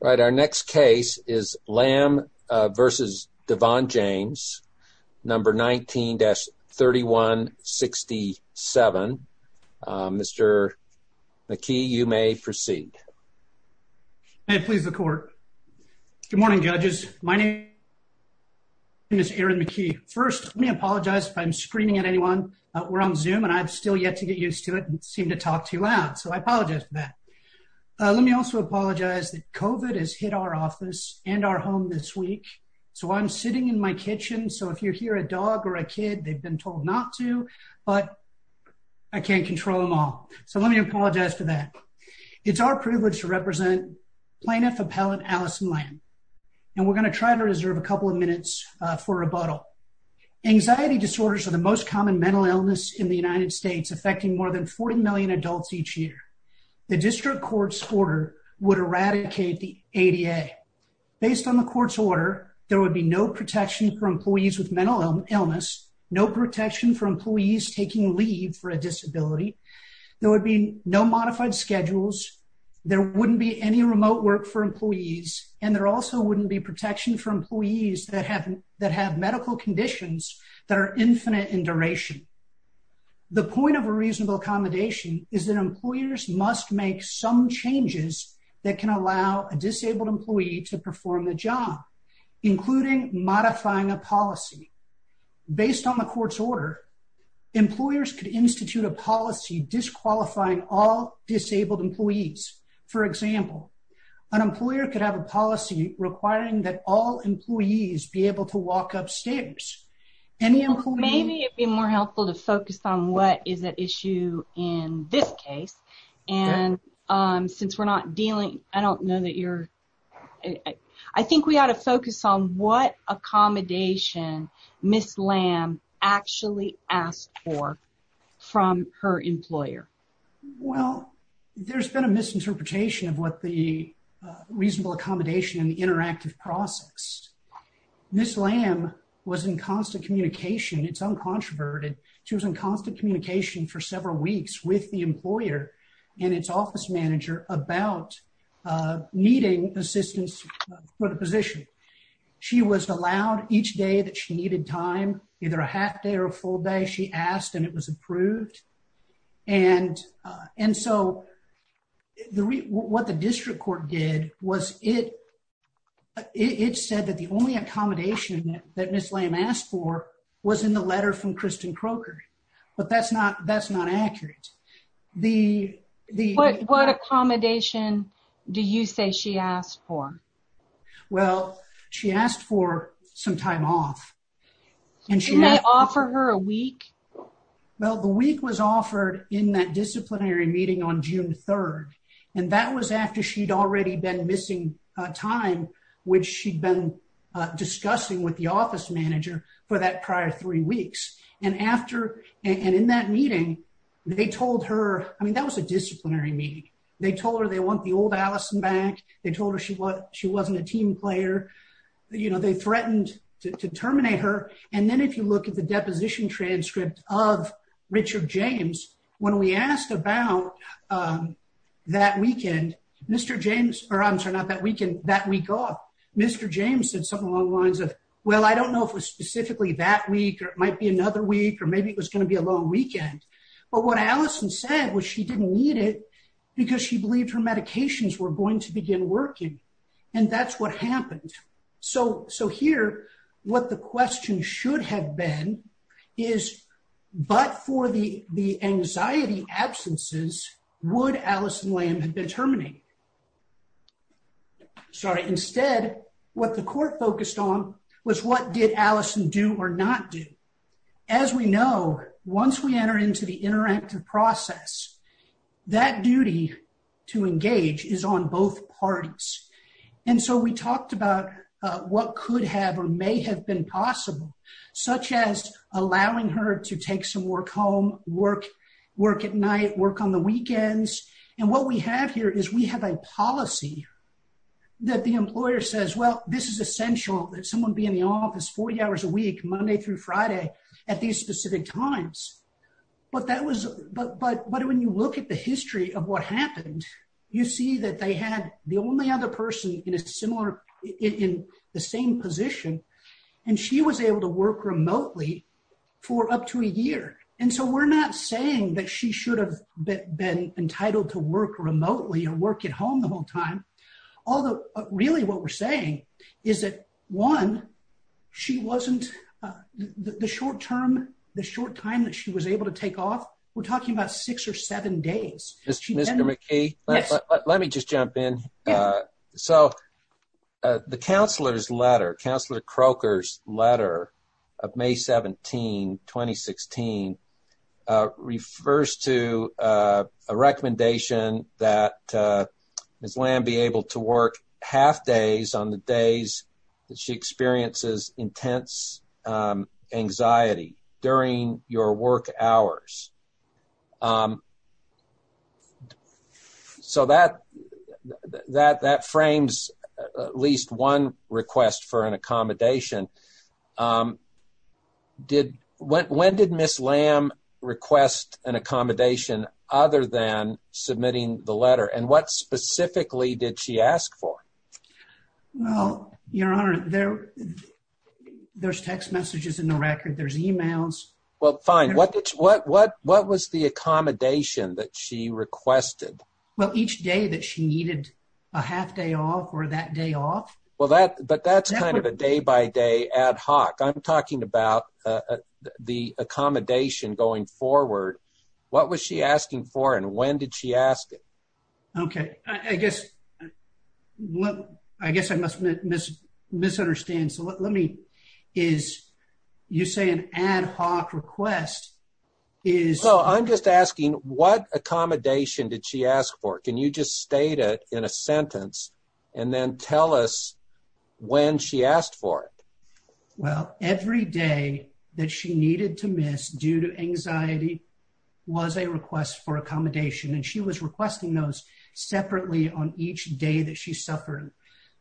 All right, our next case is Lamm v. DeVaughn James, number 19-3167. Mr. McKee, you may proceed. May it please the court. Good morning, judges. My name is Aaron McKee. First, let me apologize if I'm screaming at anyone. We're on Zoom, and I've still yet to get used to it and seem to that COVID has hit our office and our home this week, so I'm sitting in my kitchen, so if you hear a dog or a kid, they've been told not to, but I can't control them all. So let me apologize for that. It's our privilege to represent Plaintiff Appellant Allison Lamm, and we're going to try to reserve a couple of minutes for rebuttal. Anxiety disorders are the most common mental illness in the United States, affecting more than 40 million adults each year. The district court's order would eradicate the ADA. Based on the court's order, there would be no protection for employees with mental illness, no protection for employees taking leave for a disability, there would be no modified schedules, there wouldn't be any remote work for employees, and there also wouldn't be protection for employees that have medical conditions that are infinite in duration. The point of a reasonable accommodation is that employers must make some changes that can allow a disabled employee to perform the job, including modifying a policy. Based on the court's order, employers could institute a policy disqualifying all disabled employees. For example, an employer could have a policy requiring that all employees be able to walk upstairs. Maybe it'd be more helpful to focus on what is at issue in this case, and since we're not dealing, I don't know that you're, I think we ought to focus on what accommodation Ms. Lamm actually asked for from her employer. Well, there's been a process. Ms. Lamm was in constant communication, it's uncontroverted, she was in constant communication for several weeks with the employer and its office manager about needing assistance for the position. She was allowed each day that she needed time, either a half day or a full day, she asked and it was approved, and so what the district court did was it said that the only accommodation that Ms. Lamm asked for was in the letter from Kristen Croker, but that's not accurate. What accommodation do you say she asked for? Well, she asked for some time off. Didn't they offer her a week? Well, the week was offered in that disciplinary meeting on June 3rd, and that was after she'd already been missing time, which she'd been discussing with the office manager for that prior three weeks, and in that meeting, they told her, I mean that was a disciplinary meeting, they told her they want the old Allison back, they told her she wasn't a team player, you know, they threatened to terminate her, and then if you look at the deposition transcript of Richard James, when we asked about that weekend, Mr. James, or I'm sorry, not that weekend, that week off, Mr. James said something along the lines of, well, I don't know if it was specifically that week, or it might be another week, or maybe it was going to be a long weekend, but what Allison said was she didn't need it because she believed her medications were going to begin working, and that's what happened. So here, what the question should have been is, but for the anxiety absences, would Allison Lamb have been terminated? Sorry, instead, what the court focused on was what did Allison do or not do. As we know, once we enter into the interactive process, that duty to engage is on both parties, and so we talked about what could have or may have been possible, such as allowing her to take some work home, work at night, work on the weekends, and what we have here is we have a policy that the employer says, well, this is essential that someone be in the office 40 hours a week, Monday through Friday, at these specific times, but that was, but when you look at the history of what happened, you see that they had the only other person in a similar, in the same position, and she was able to work remotely for up to a year, and so we're not saying that she should have been entitled to work remotely or work at home the whole time, although really what we're saying is that, one, she wasn't, the short term, the short time that she was able to take off, we're talking about six or seven days. Mr. McKee, let me just jump in. So, the counselor's letter, Counselor Croker's letter of May 17, 2016, refers to a recommendation that Ms. Lamb be able to work half days on the days that she experiences intense anxiety during your work hours. So, that frames at least one request for an accommodation. When did Ms. Lamb request an accommodation other than submitting the letter, and what specifically did she ask for? Well, your honor, there's text messages in the record, there's emails. Well, fine. What was the accommodation that she requested? Well, each day that she needed a half day off or that day off. Well, that, but that's kind of a day-by-day ad hoc. I'm talking about the accommodation going forward. What was she asking for and when did she ask it? Okay, I guess, I guess I must misunderstand. So, let me, is, you say an ad hoc request is... I'm just asking, what accommodation did she ask for? Can you just state it in a sentence and then tell us when she asked for it? Well, every day that she needed to miss due to anxiety was a request for accommodation, and she was requesting those separately on each day that she suffered.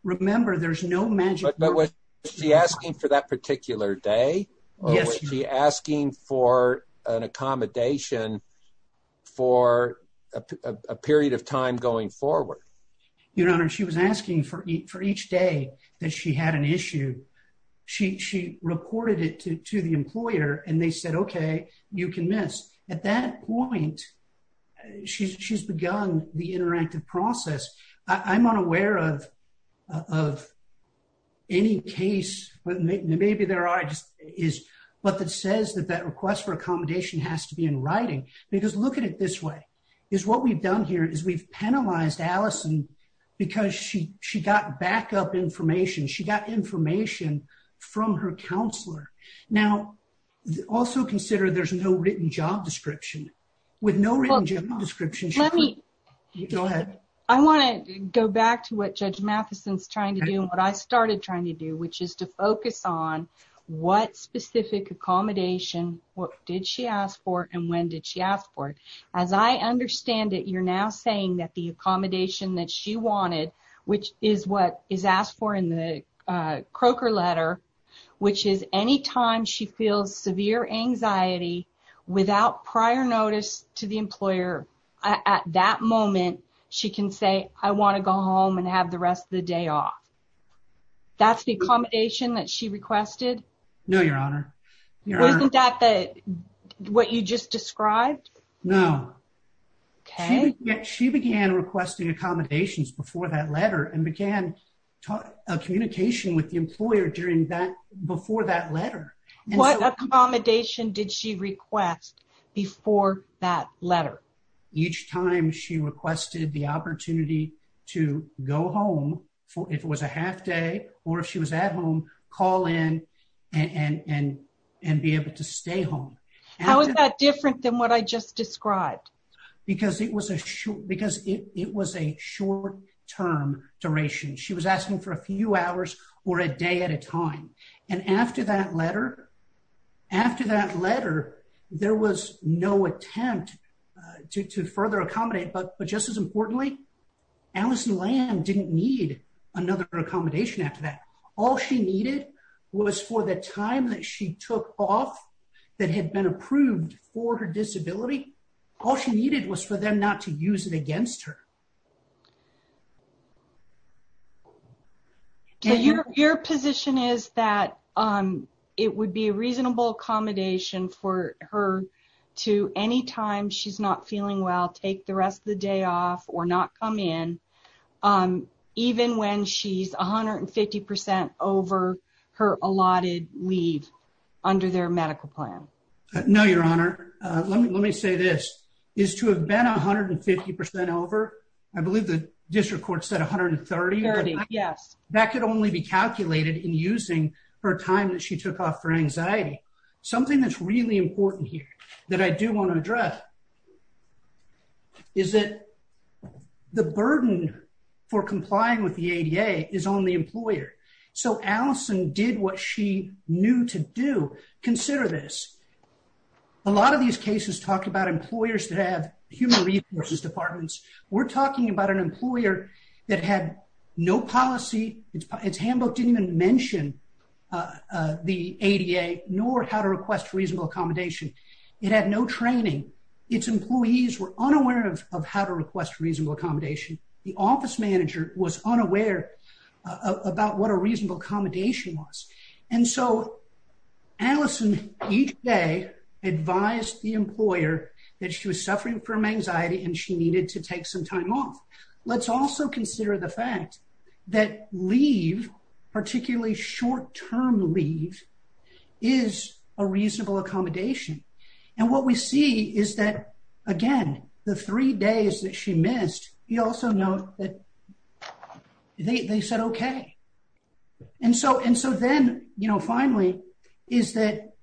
Remember, there's no magic... But was she asking for that particular day? Yes. Was she asking for an accommodation for a period of time going forward? Your honor, she was asking for each day that she had an issue. She reported it to the employer and they said, okay, you can miss. At that point, she's begun the interactive process. I'm unaware of of any case, but maybe there are just, is what that says that that request for accommodation has to be in writing. Because look at it this way, is what we've done here is we've penalized Allison because she, she got backup information. She got information from her counselor. Now, also consider there's no written job description. With no written job description... Go ahead. I want to go back to what Judge Matheson's trying to do and what I started trying to do, which is to focus on what specific accommodation, what did she ask for and when did she ask for it? As I understand it, you're now saying that the accommodation that she wanted, which is what is asked for in the Croker letter, which is anytime she feels severe anxiety without prior notice to the employer, at that moment, she can say, I want to go home and have the rest of the day off. That's the accommodation that she requested? No, Your Honor. Isn't that what you just described? No. Okay. She began requesting accommodations before that letter and began a communication with the employer during that, before that letter. What accommodation did she request before that letter? Each time she requested the opportunity to go home for, if it was a half day or if she was at home, call in and, and, and, and be able to stay home. How is that different than what I just described? Because it was a short, because it was a short term duration. She was asking for a few hours or a day at a time. And after that letter, after that letter, there was no attempt to, to further accommodate. But, but just as importantly, Allison Lamb didn't need another accommodation after that. All she needed was for the time that she took off that had been approved for her disability. All she needed was for them not to be a reasonable accommodation for her to, anytime she's not feeling well, take the rest of the day off or not come in. Even when she's 150% over her allotted leave under their medical plan. No, Your Honor. Let me, let me say this is to have been 150% over, I believe the district court said 130. Yes. That could only be calculated in using her time that she took off for anxiety. Something that's really important here that I do want to address is that the burden for complying with the ADA is on the employer. So Allison did what she knew to do. Consider this. A lot of these cases talk about employers that have human resources departments. We're talking about an employer that had no policy. Its handbook didn't even mention the ADA nor how to request reasonable accommodation. It had no training. Its employees were unaware of how to request reasonable accommodation. The office manager was unaware about what a reasonable accommodation was. And so Allison each day advised the employer that she was suffering from anxiety and she needed to take some time off. Let's also consider the fact that leave, particularly short-term leave, is a reasonable accommodation. And what we see is that, again, the three days that she missed, you also note that they said okay. And so then, you know, finally, is that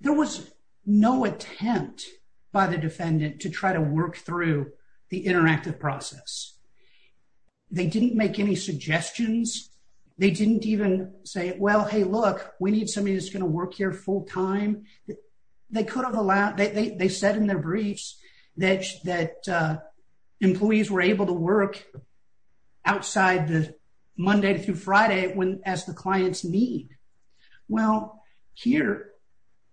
there was no attempt by the defendant to try to work through the interactive process. They didn't make any suggestions. They didn't even say, well, hey, look, we need somebody that's going to work here full time. They could have allowed, they said in their Monday through Friday, when as the clients need. Well, here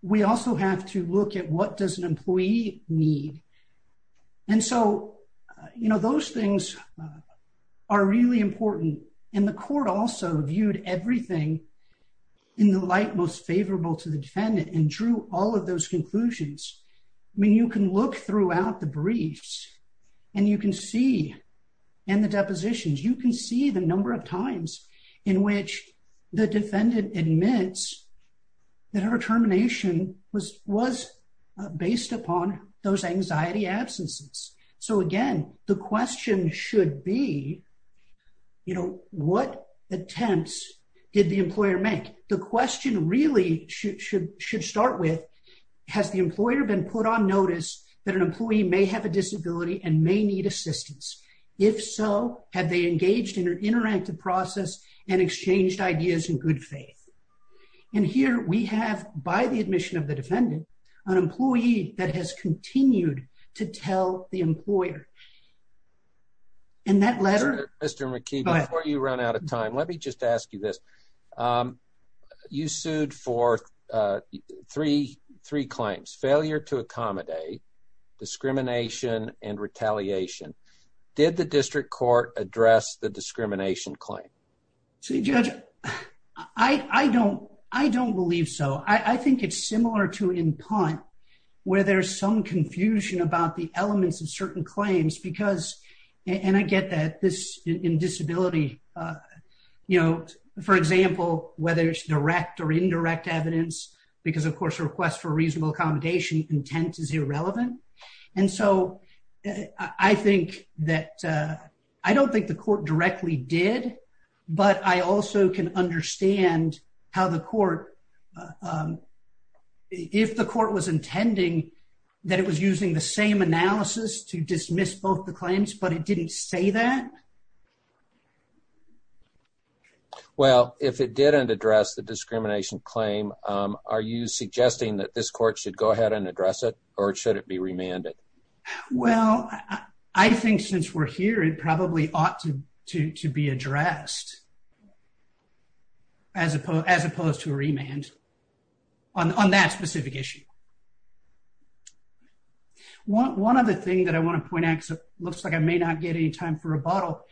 we also have to look at what does an employee need. And so, you know, those things are really important. And the court also viewed everything in the light most favorable to the defendant and drew all of those conclusions. I mean, you can look throughout the briefs and you can see, and the depositions, you can see the number of times in which the defendant admits that her termination was based upon those anxiety absences. So again, the question should be, you know, what attempts did the employer make? The question really should start with, has the employer been put on notice that an employee may have a process and exchanged ideas in good faith. And here we have, by the admission of the defendant, an employee that has continued to tell the employer. And that letter. Mr. McKee, before you run out of time, let me just ask you this. You sued for three, three claims, failure to accommodate discrimination and retaliation. Did the district court address the discrimination claim? Judge, I don't, I don't believe so. I think it's similar to in punt where there's some confusion about the elements of certain claims because, and I get that this in disability, you know, for example, whether it's direct or indirect evidence, because of course, requests for reasonable accommodation intent is irrelevant. And so I think that I don't think the court directly did, but I also can understand how the court, if the court was intending that it was using the same analysis to dismiss both the claims, but it didn't say that. Well, if it didn't address the discrimination claim, are you suggesting that this court should go ahead and address it or should it be remanded? Well, I think since we're here, it probably ought to be addressed as opposed to a remand on that specific issue. One other thing that I want to point out, because it looks like I may not get any time for rebuttal,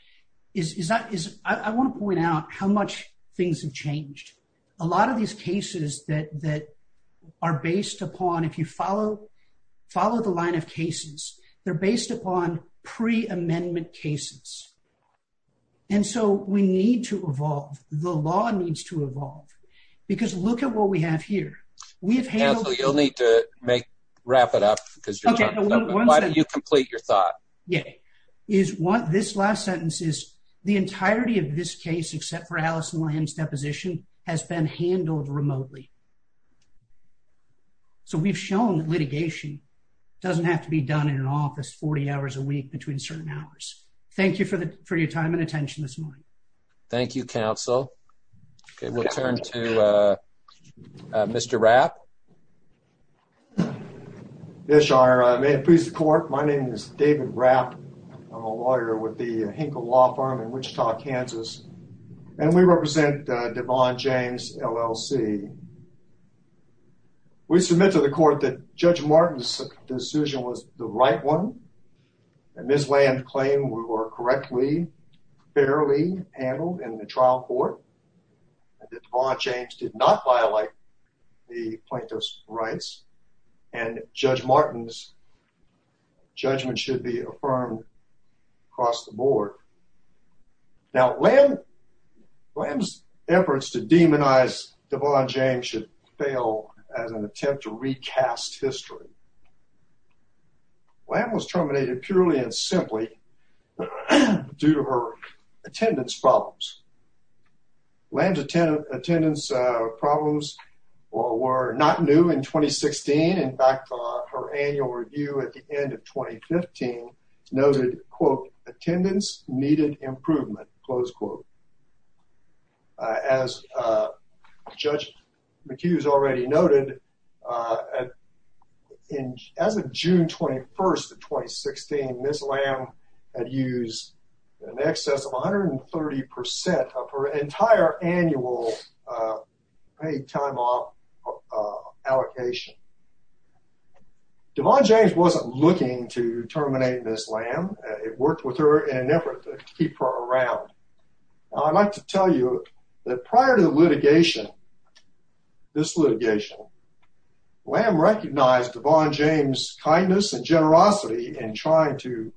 is I want to point out how much things have changed. A lot of these cases that are based upon pre-amendment cases. And so we need to evolve. The law needs to evolve. Because look at what we have here. We have handled... You'll need to make, wrap it up because why don't you complete your thought? Yeah. Is what this last sentence is, the entirety of this case, except for Allison Lamb's deposition, has been handled remotely. So we've shown that litigation doesn't have to be done in an office 40 hours a week between certain hours. Thank you for your time and attention this morning. Thank you, counsel. Okay. We'll turn to Mr. Rapp. Yes, your honor. May it please the court. My name is David Rapp. I'm a lawyer with the Hinkle Law Firm in Wichita, Kansas. And we represent Devon James LLC. We submit to the court that Judge Martin's decision was the right one. And Ms. Lamb claimed we were correctly, fairly handled in the trial court. And that Devon James did not violate the plaintiff's rights. And Judge Martin's judgment should be affirmed across the board. Now, Lamb's efforts to demonize Devon James should fail as an attempt to recast history. Lamb was terminated purely and simply due to her attendance problems. Lamb's attendance problems were not new in 2016. In fact, her annual review at the end of 2015 noted, quote, attendance needed improvement, close quote. As Judge McHugh's already noted, as of June 21st of 2016, Ms. Lamb had used an excess of 130% of her entire annual paid time off allocation. Devon James wasn't looking to terminate Ms. Lamb. It worked with her in an effort to keep her around. I'd like to tell you that prior to the litigation, this litigation, Lamb recognized Devon James' kindness and generosity in trying to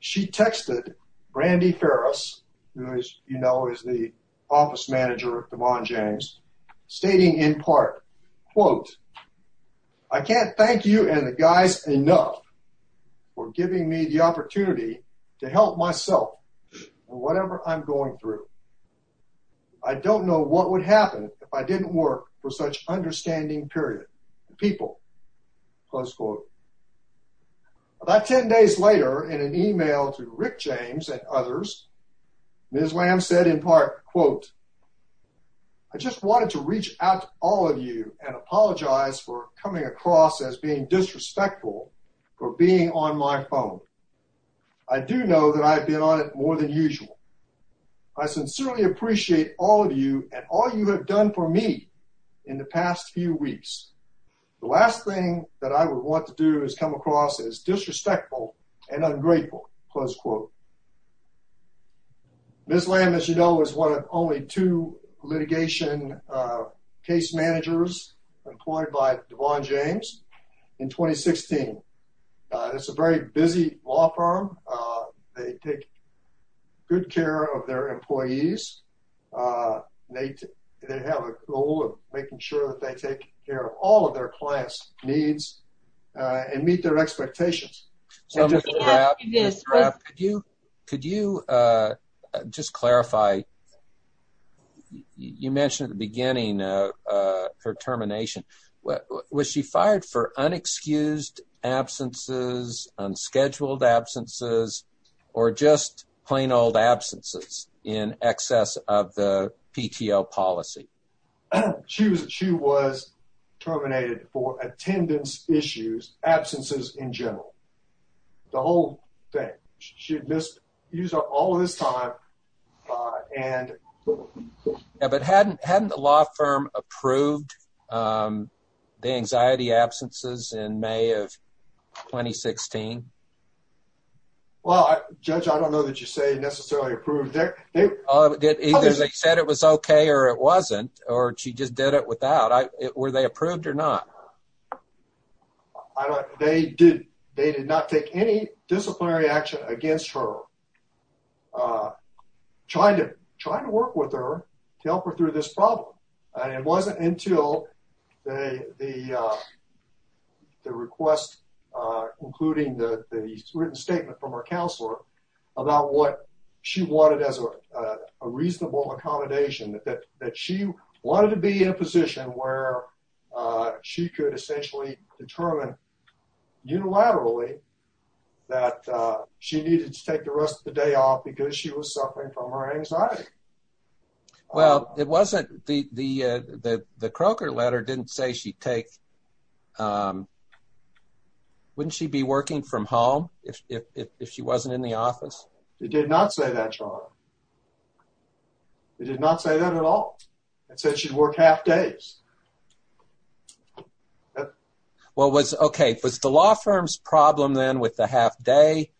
She texted Brandi Ferris, who as you know is the office manager of Devon James, stating in part, quote, I can't thank you and the guys enough for giving me the opportunity to help myself with whatever I'm going through. I don't know what would happen if I didn't work for such understanding period, people, close quote. About 10 days later in an email to Rick James and others, Ms. Lamb said in part, quote, I just wanted to reach out to all of you and apologize for coming across as being disrespectful for being on my phone. I do know that I've been more than usual. I sincerely appreciate all of you and all you have done for me in the past few weeks. The last thing that I would want to do is come across as disrespectful and ungrateful, close quote. Ms. Lamb, as you know, is one of only two litigation case managers employed by law firm. They take good care of their employees. They have a goal of making sure that they take care of all of their clients' needs and meet their expectations. Could you just clarify, you mentioned at the beginning her termination, was she fired for unexcused absences, unscheduled absences, or just plain old absences in excess of the PTO policy? She was terminated for attendance issues, absences in general. The whole thing. She had missed all of this time. Hadn't the law firm approved the anxiety absences in May of 2016? Well, Judge, I don't know that you say necessarily approved. Either they said it was okay or it wasn't, or she just did it without. Were they approved or not? I don't know. They did not take any disciplinary action against her trying to work with her to help her through this problem. It wasn't until the request, including the written statement from her counselor about what she wanted as a reasonable accommodation, that she wanted to be in a position where she could essentially determine unilaterally that she needed to take the rest of the day off because she was suffering from her anxiety. Well, it wasn't, the Croker letter didn't say she'd take, wouldn't she be working from home if she wasn't in the office? They did not say that, John. They did not say that at all. It said she'd work half days. Well, was, okay, was the law firm's problem then with the half day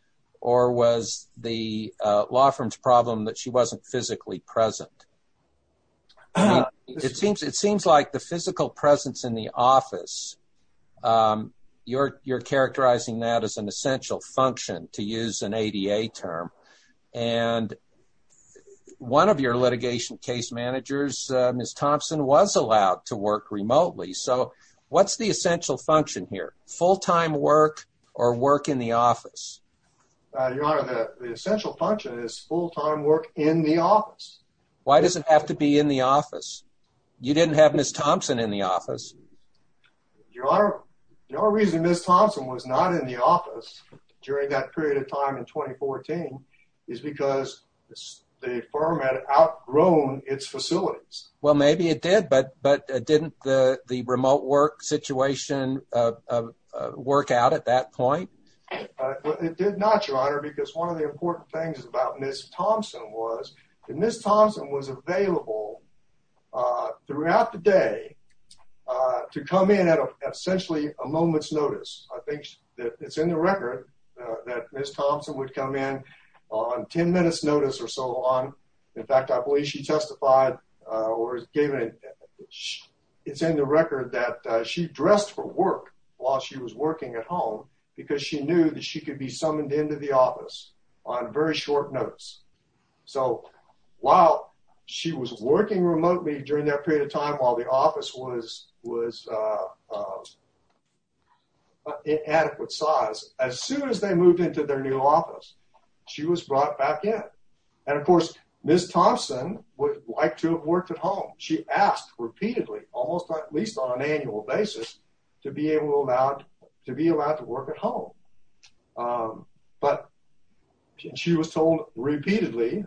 or was the law firm's problem that she wasn't physically present? It seems like the physical presence in the office, um, you're, you're characterizing that as an essential function to use an ADA term. And one of your litigation case managers, uh, Ms. Thompson was allowed to work remotely. So what's the essential function here? Full-time work or work in the office? Your Honor, the essential function is full-time work in the office. Why does it have to be in the office? You didn't have Ms. Thompson in the office. Your Honor, the only reason Ms. Thompson was not in the office during that period of time in 2014 is because the firm had outgrown its facilities. Well, maybe it did, but, but didn't the, the remote work situation, uh, uh, work out at that point? It did not, Your Honor, because one of the important things about Ms. Thompson was that Ms. Thompson was available, uh, throughout the day, uh, to come in at essentially a moment's notice. I think that it's in the record, uh, that Ms. Thompson would come in on 10 minutes notice or so on. In fact, I believe she testified, uh, or gave it, it's in the record that she dressed for work while she was working at home because she knew that she could be summoned into the office on very short notice. So while she was working remotely during that period of time, while the office was, was, uh, uh, inadequate size, as soon as they moved into their new office, she was brought back in. And of course, Ms. Thompson would like to have worked at home. She asked repeatedly, almost at least on an annual basis, to be able to allow, to be allowed to work at home. Um, but she was told repeatedly,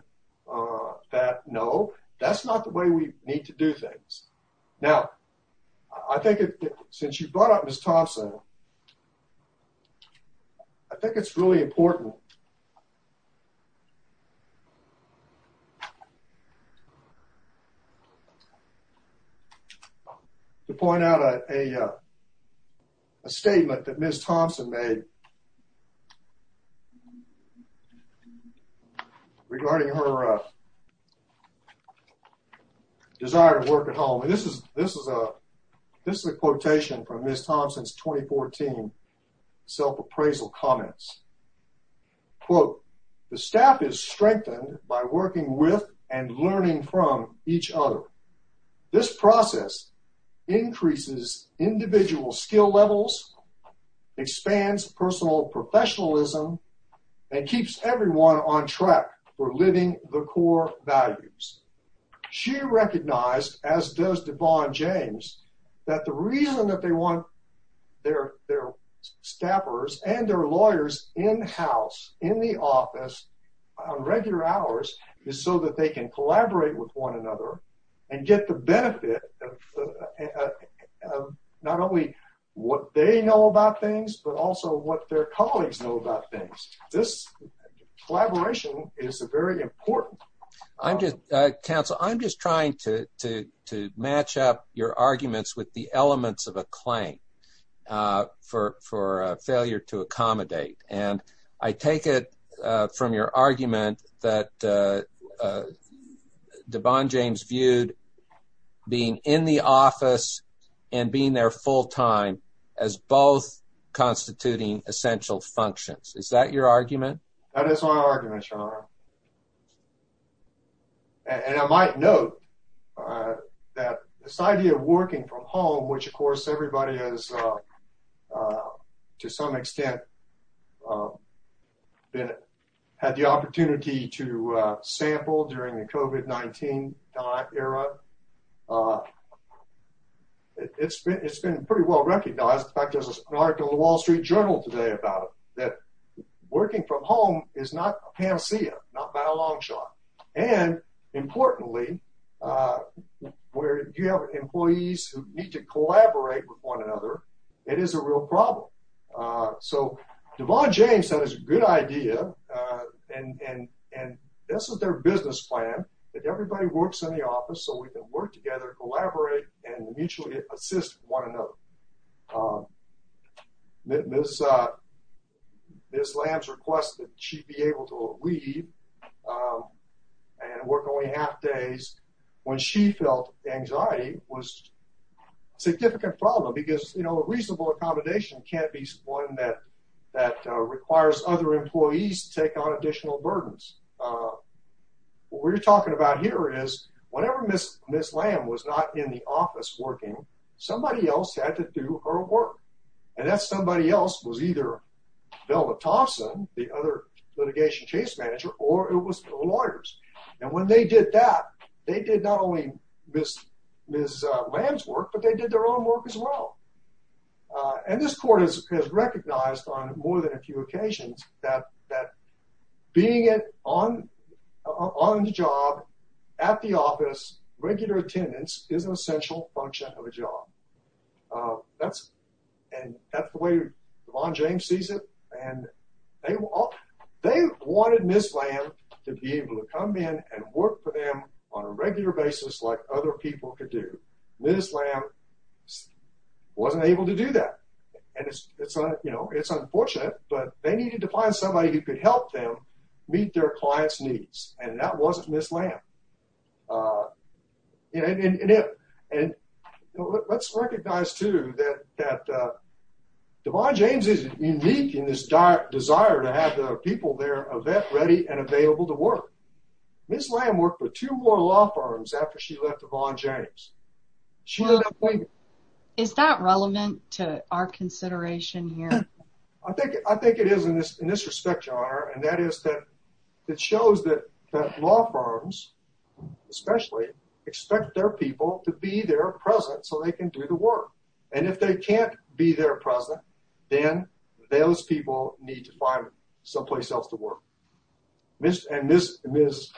uh, that no, that's not the way we need to do things. Now, I think since you brought up Ms. Thompson, I think it's really important to point out, uh, a, uh, a statement that Ms. Thompson made regarding her, uh, desire to work at home. And this is, this is a, this is a quotation from Ms. Thompson's 2014 self-appraisal comments. Ms. Thompson's self-appraisal comments were, quote, the staff is strengthened by working with and learning from each other. This process increases individual skill levels, expands personal professionalism, and keeps everyone on track for living the core values. She recognized, as does Devon James, that the in the office on regular hours is so that they can collaborate with one another and get the benefit of not only what they know about things, but also what their colleagues know about things. This collaboration is a very important. I'm just, uh, counsel, I'm just trying to, to, to match up your arguments with the elements of a claim, uh, for, for a failure to accommodate. And I take it, uh, from your argument that, uh, uh, Devon James viewed being in the office and being there full time as both constituting essential functions. Is that your argument? That is my argument, Sean. And I might note, uh, that this idea of working from home, which of course everybody has, uh, uh, to some extent, uh, been, had the opportunity to, uh, sample during the COVID-19 era. Uh, it's been, it's been pretty well recognized. In fact, there's an article in the wall street journal today about it, that working from home is not a long shot. And importantly, uh, where you have employees who need to collaborate with one another, it is a real problem. Uh, so Devon James said it's a good idea. Uh, and, and, and this is their business plan that everybody works in the office so we can work together, collaborate and mutually assist one another. Um, Ms. uh, Ms. Lamb's request that she be able to leave, um, and work only half days when she felt anxiety was a significant problem because, you know, a reasonable accommodation can't be one that, that, uh, requires other employees to take on additional burdens. Uh, what we're talking about here is whenever Ms. Ms. Lamb was not in the office working, somebody else had to do her work. And that somebody else was either Velma Thompson, the other litigation case manager, or it was the lawyers. And when they did that, they did not only Ms. Ms. uh, Lamb's work, but they did their own work as well. Uh, and this court has recognized on more than a few occasions that, that being it on, on the job at the office, regular attendance is an essential function of a job. Uh, that's, and that's the way James sees it. And they all, they wanted Ms. Lamb to be able to come in and work for them on a regular basis, like other people could do. Ms. Lamb wasn't able to do that. And it's, it's, you know, it's unfortunate, but they needed to find somebody who could help them meet their client's needs. And that wasn't Ms. Lamb. Uh, and, and, and, and let's recognize too, that, that, uh, Devon James is unique in this desire to have the people there, a vet ready and available to work. Ms. Lamb worked for two more law firms after she left Devon James. Is that relevant to our consideration here? I think, I think it is in this, in this respect, and that is that it shows that law firms, especially expect their people to be there present so they can do the work. And if they can't be there present, then those people need to find someplace else to work. Ms., and Ms., Ms.,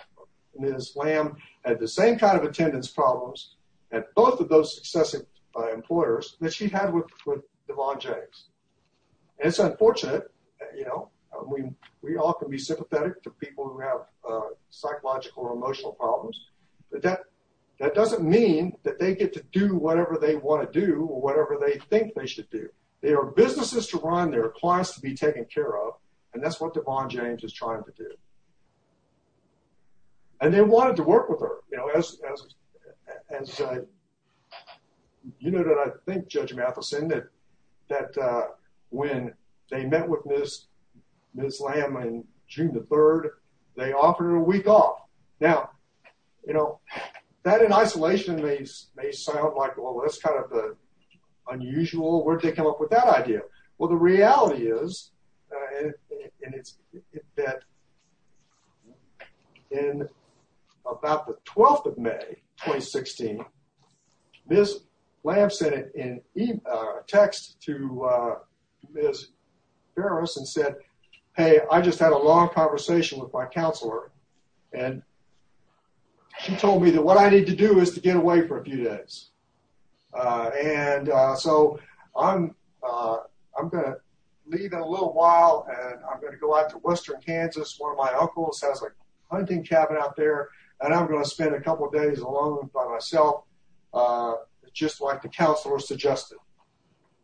Ms. Lamb had the same kind of attendance problems at both of those successive, uh, employers that she had with, with Devon James. It's unfortunate, you know, I mean, we all can be sympathetic to people who have, uh, psychological or emotional problems, but that, that doesn't mean that they get to do whatever they want to do or whatever they think they should do. They are businesses to run, they're clients to be taken care of. And that's what Devon James is trying to do. And they wanted to work with her, you know, as, as, uh, you know, that I think Judge Matheson, that, that, uh, when they met with Ms., Ms. Lamb on June the 3rd, they offered her a week off. Now, you know, that in isolation may, may sound like, well, that's kind of the unusual, where'd they come up with that idea? Well, the reality is, uh, and it's, that in about the 12th of May, 2016, Ms. Lamb sent an email, uh, a text to, uh, Ms. Ferris and said, hey, I just had a long conversation with my counselor and she told me that what I need to do is to get away for a few days. Uh, and, uh, so I'm, uh, I'm going to leave in a little while and I'm going to go out to Western Kansas. One of my uncles has a hunting cabin out there and I'm going to spend a couple of days alone by myself, uh, just like the counselor suggested.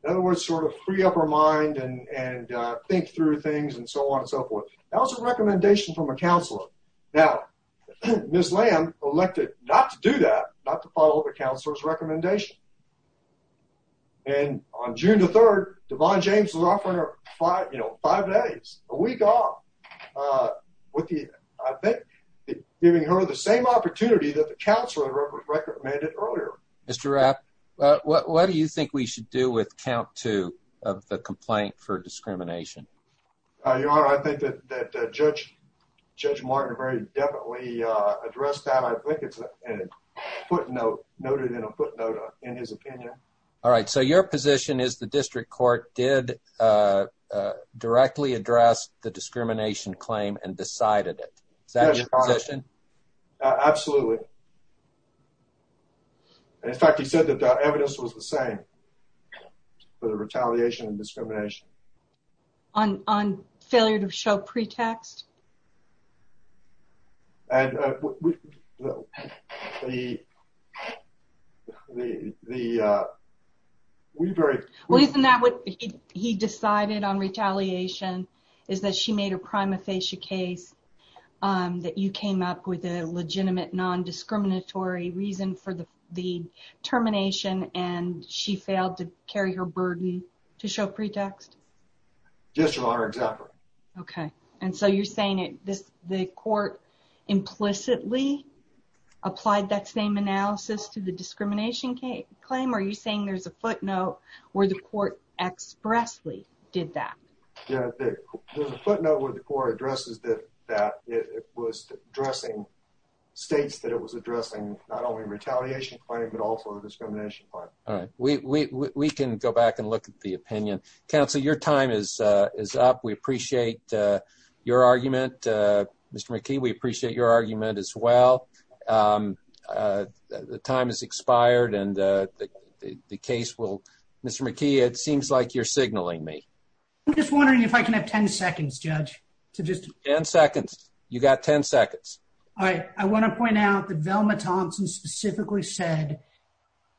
In other words, sort of free up her mind and, and, uh, think through things and so on and so forth. That was a recommendation from a counselor. Now, Ms. Lamb elected not to do that, not to follow the counselor's recommendation. And on June the 3rd, Devon James was offering her five, you know, five days, a week off, uh, with the, I think giving her the same opportunity that the counselor recommended earlier. Mr. Rapp, what do you think we should do with count two of the complaint for discrimination? Uh, your honor, I think that, that, uh, Judge, Judge Martin very definitely, uh, it's a footnote noted in a footnote in his opinion. All right. So your position is the district court did, uh, uh, directly address the discrimination claim and decided it. Is that your position? Absolutely. In fact, he said that the evidence was the same for the retaliation and discrimination on, on failure to show pretext. And, uh, the, the, the, uh, we very... Well, isn't that what he decided on retaliation is that she made a prima facie case, um, that you came up with a legitimate non-discriminatory reason for the, the termination and she failed to just your honor. Exactly. Okay. And so you're saying it, this, the court implicitly applied that same analysis to the discrimination case claim. Are you saying there's a footnote where the court expressly did that? Yeah. There's a footnote where the court addresses that, that it was addressing states that it was addressing not only retaliation claim, but also the discrimination part. All right. We, we, we can go back and look at the opinion. Counsel, your time is, uh, is up. We appreciate, uh, your argument, uh, Mr. McKee, we appreciate your argument as well. Um, uh, the time has expired and, uh, the, the case will... Mr. McKee, it seems like you're signaling me. I'm just wondering if I can have 10 seconds, judge, to just... 10 seconds. You got 10 seconds. All right. I want to point out that Velma Thompson specifically said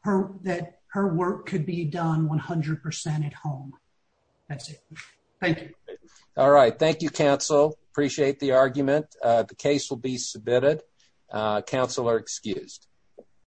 her, that her work could be done 100% at home. That's it. Thank you. All right. Thank you, counsel. Appreciate the argument. Uh, the case will be submitted. Uh, counsel are excused.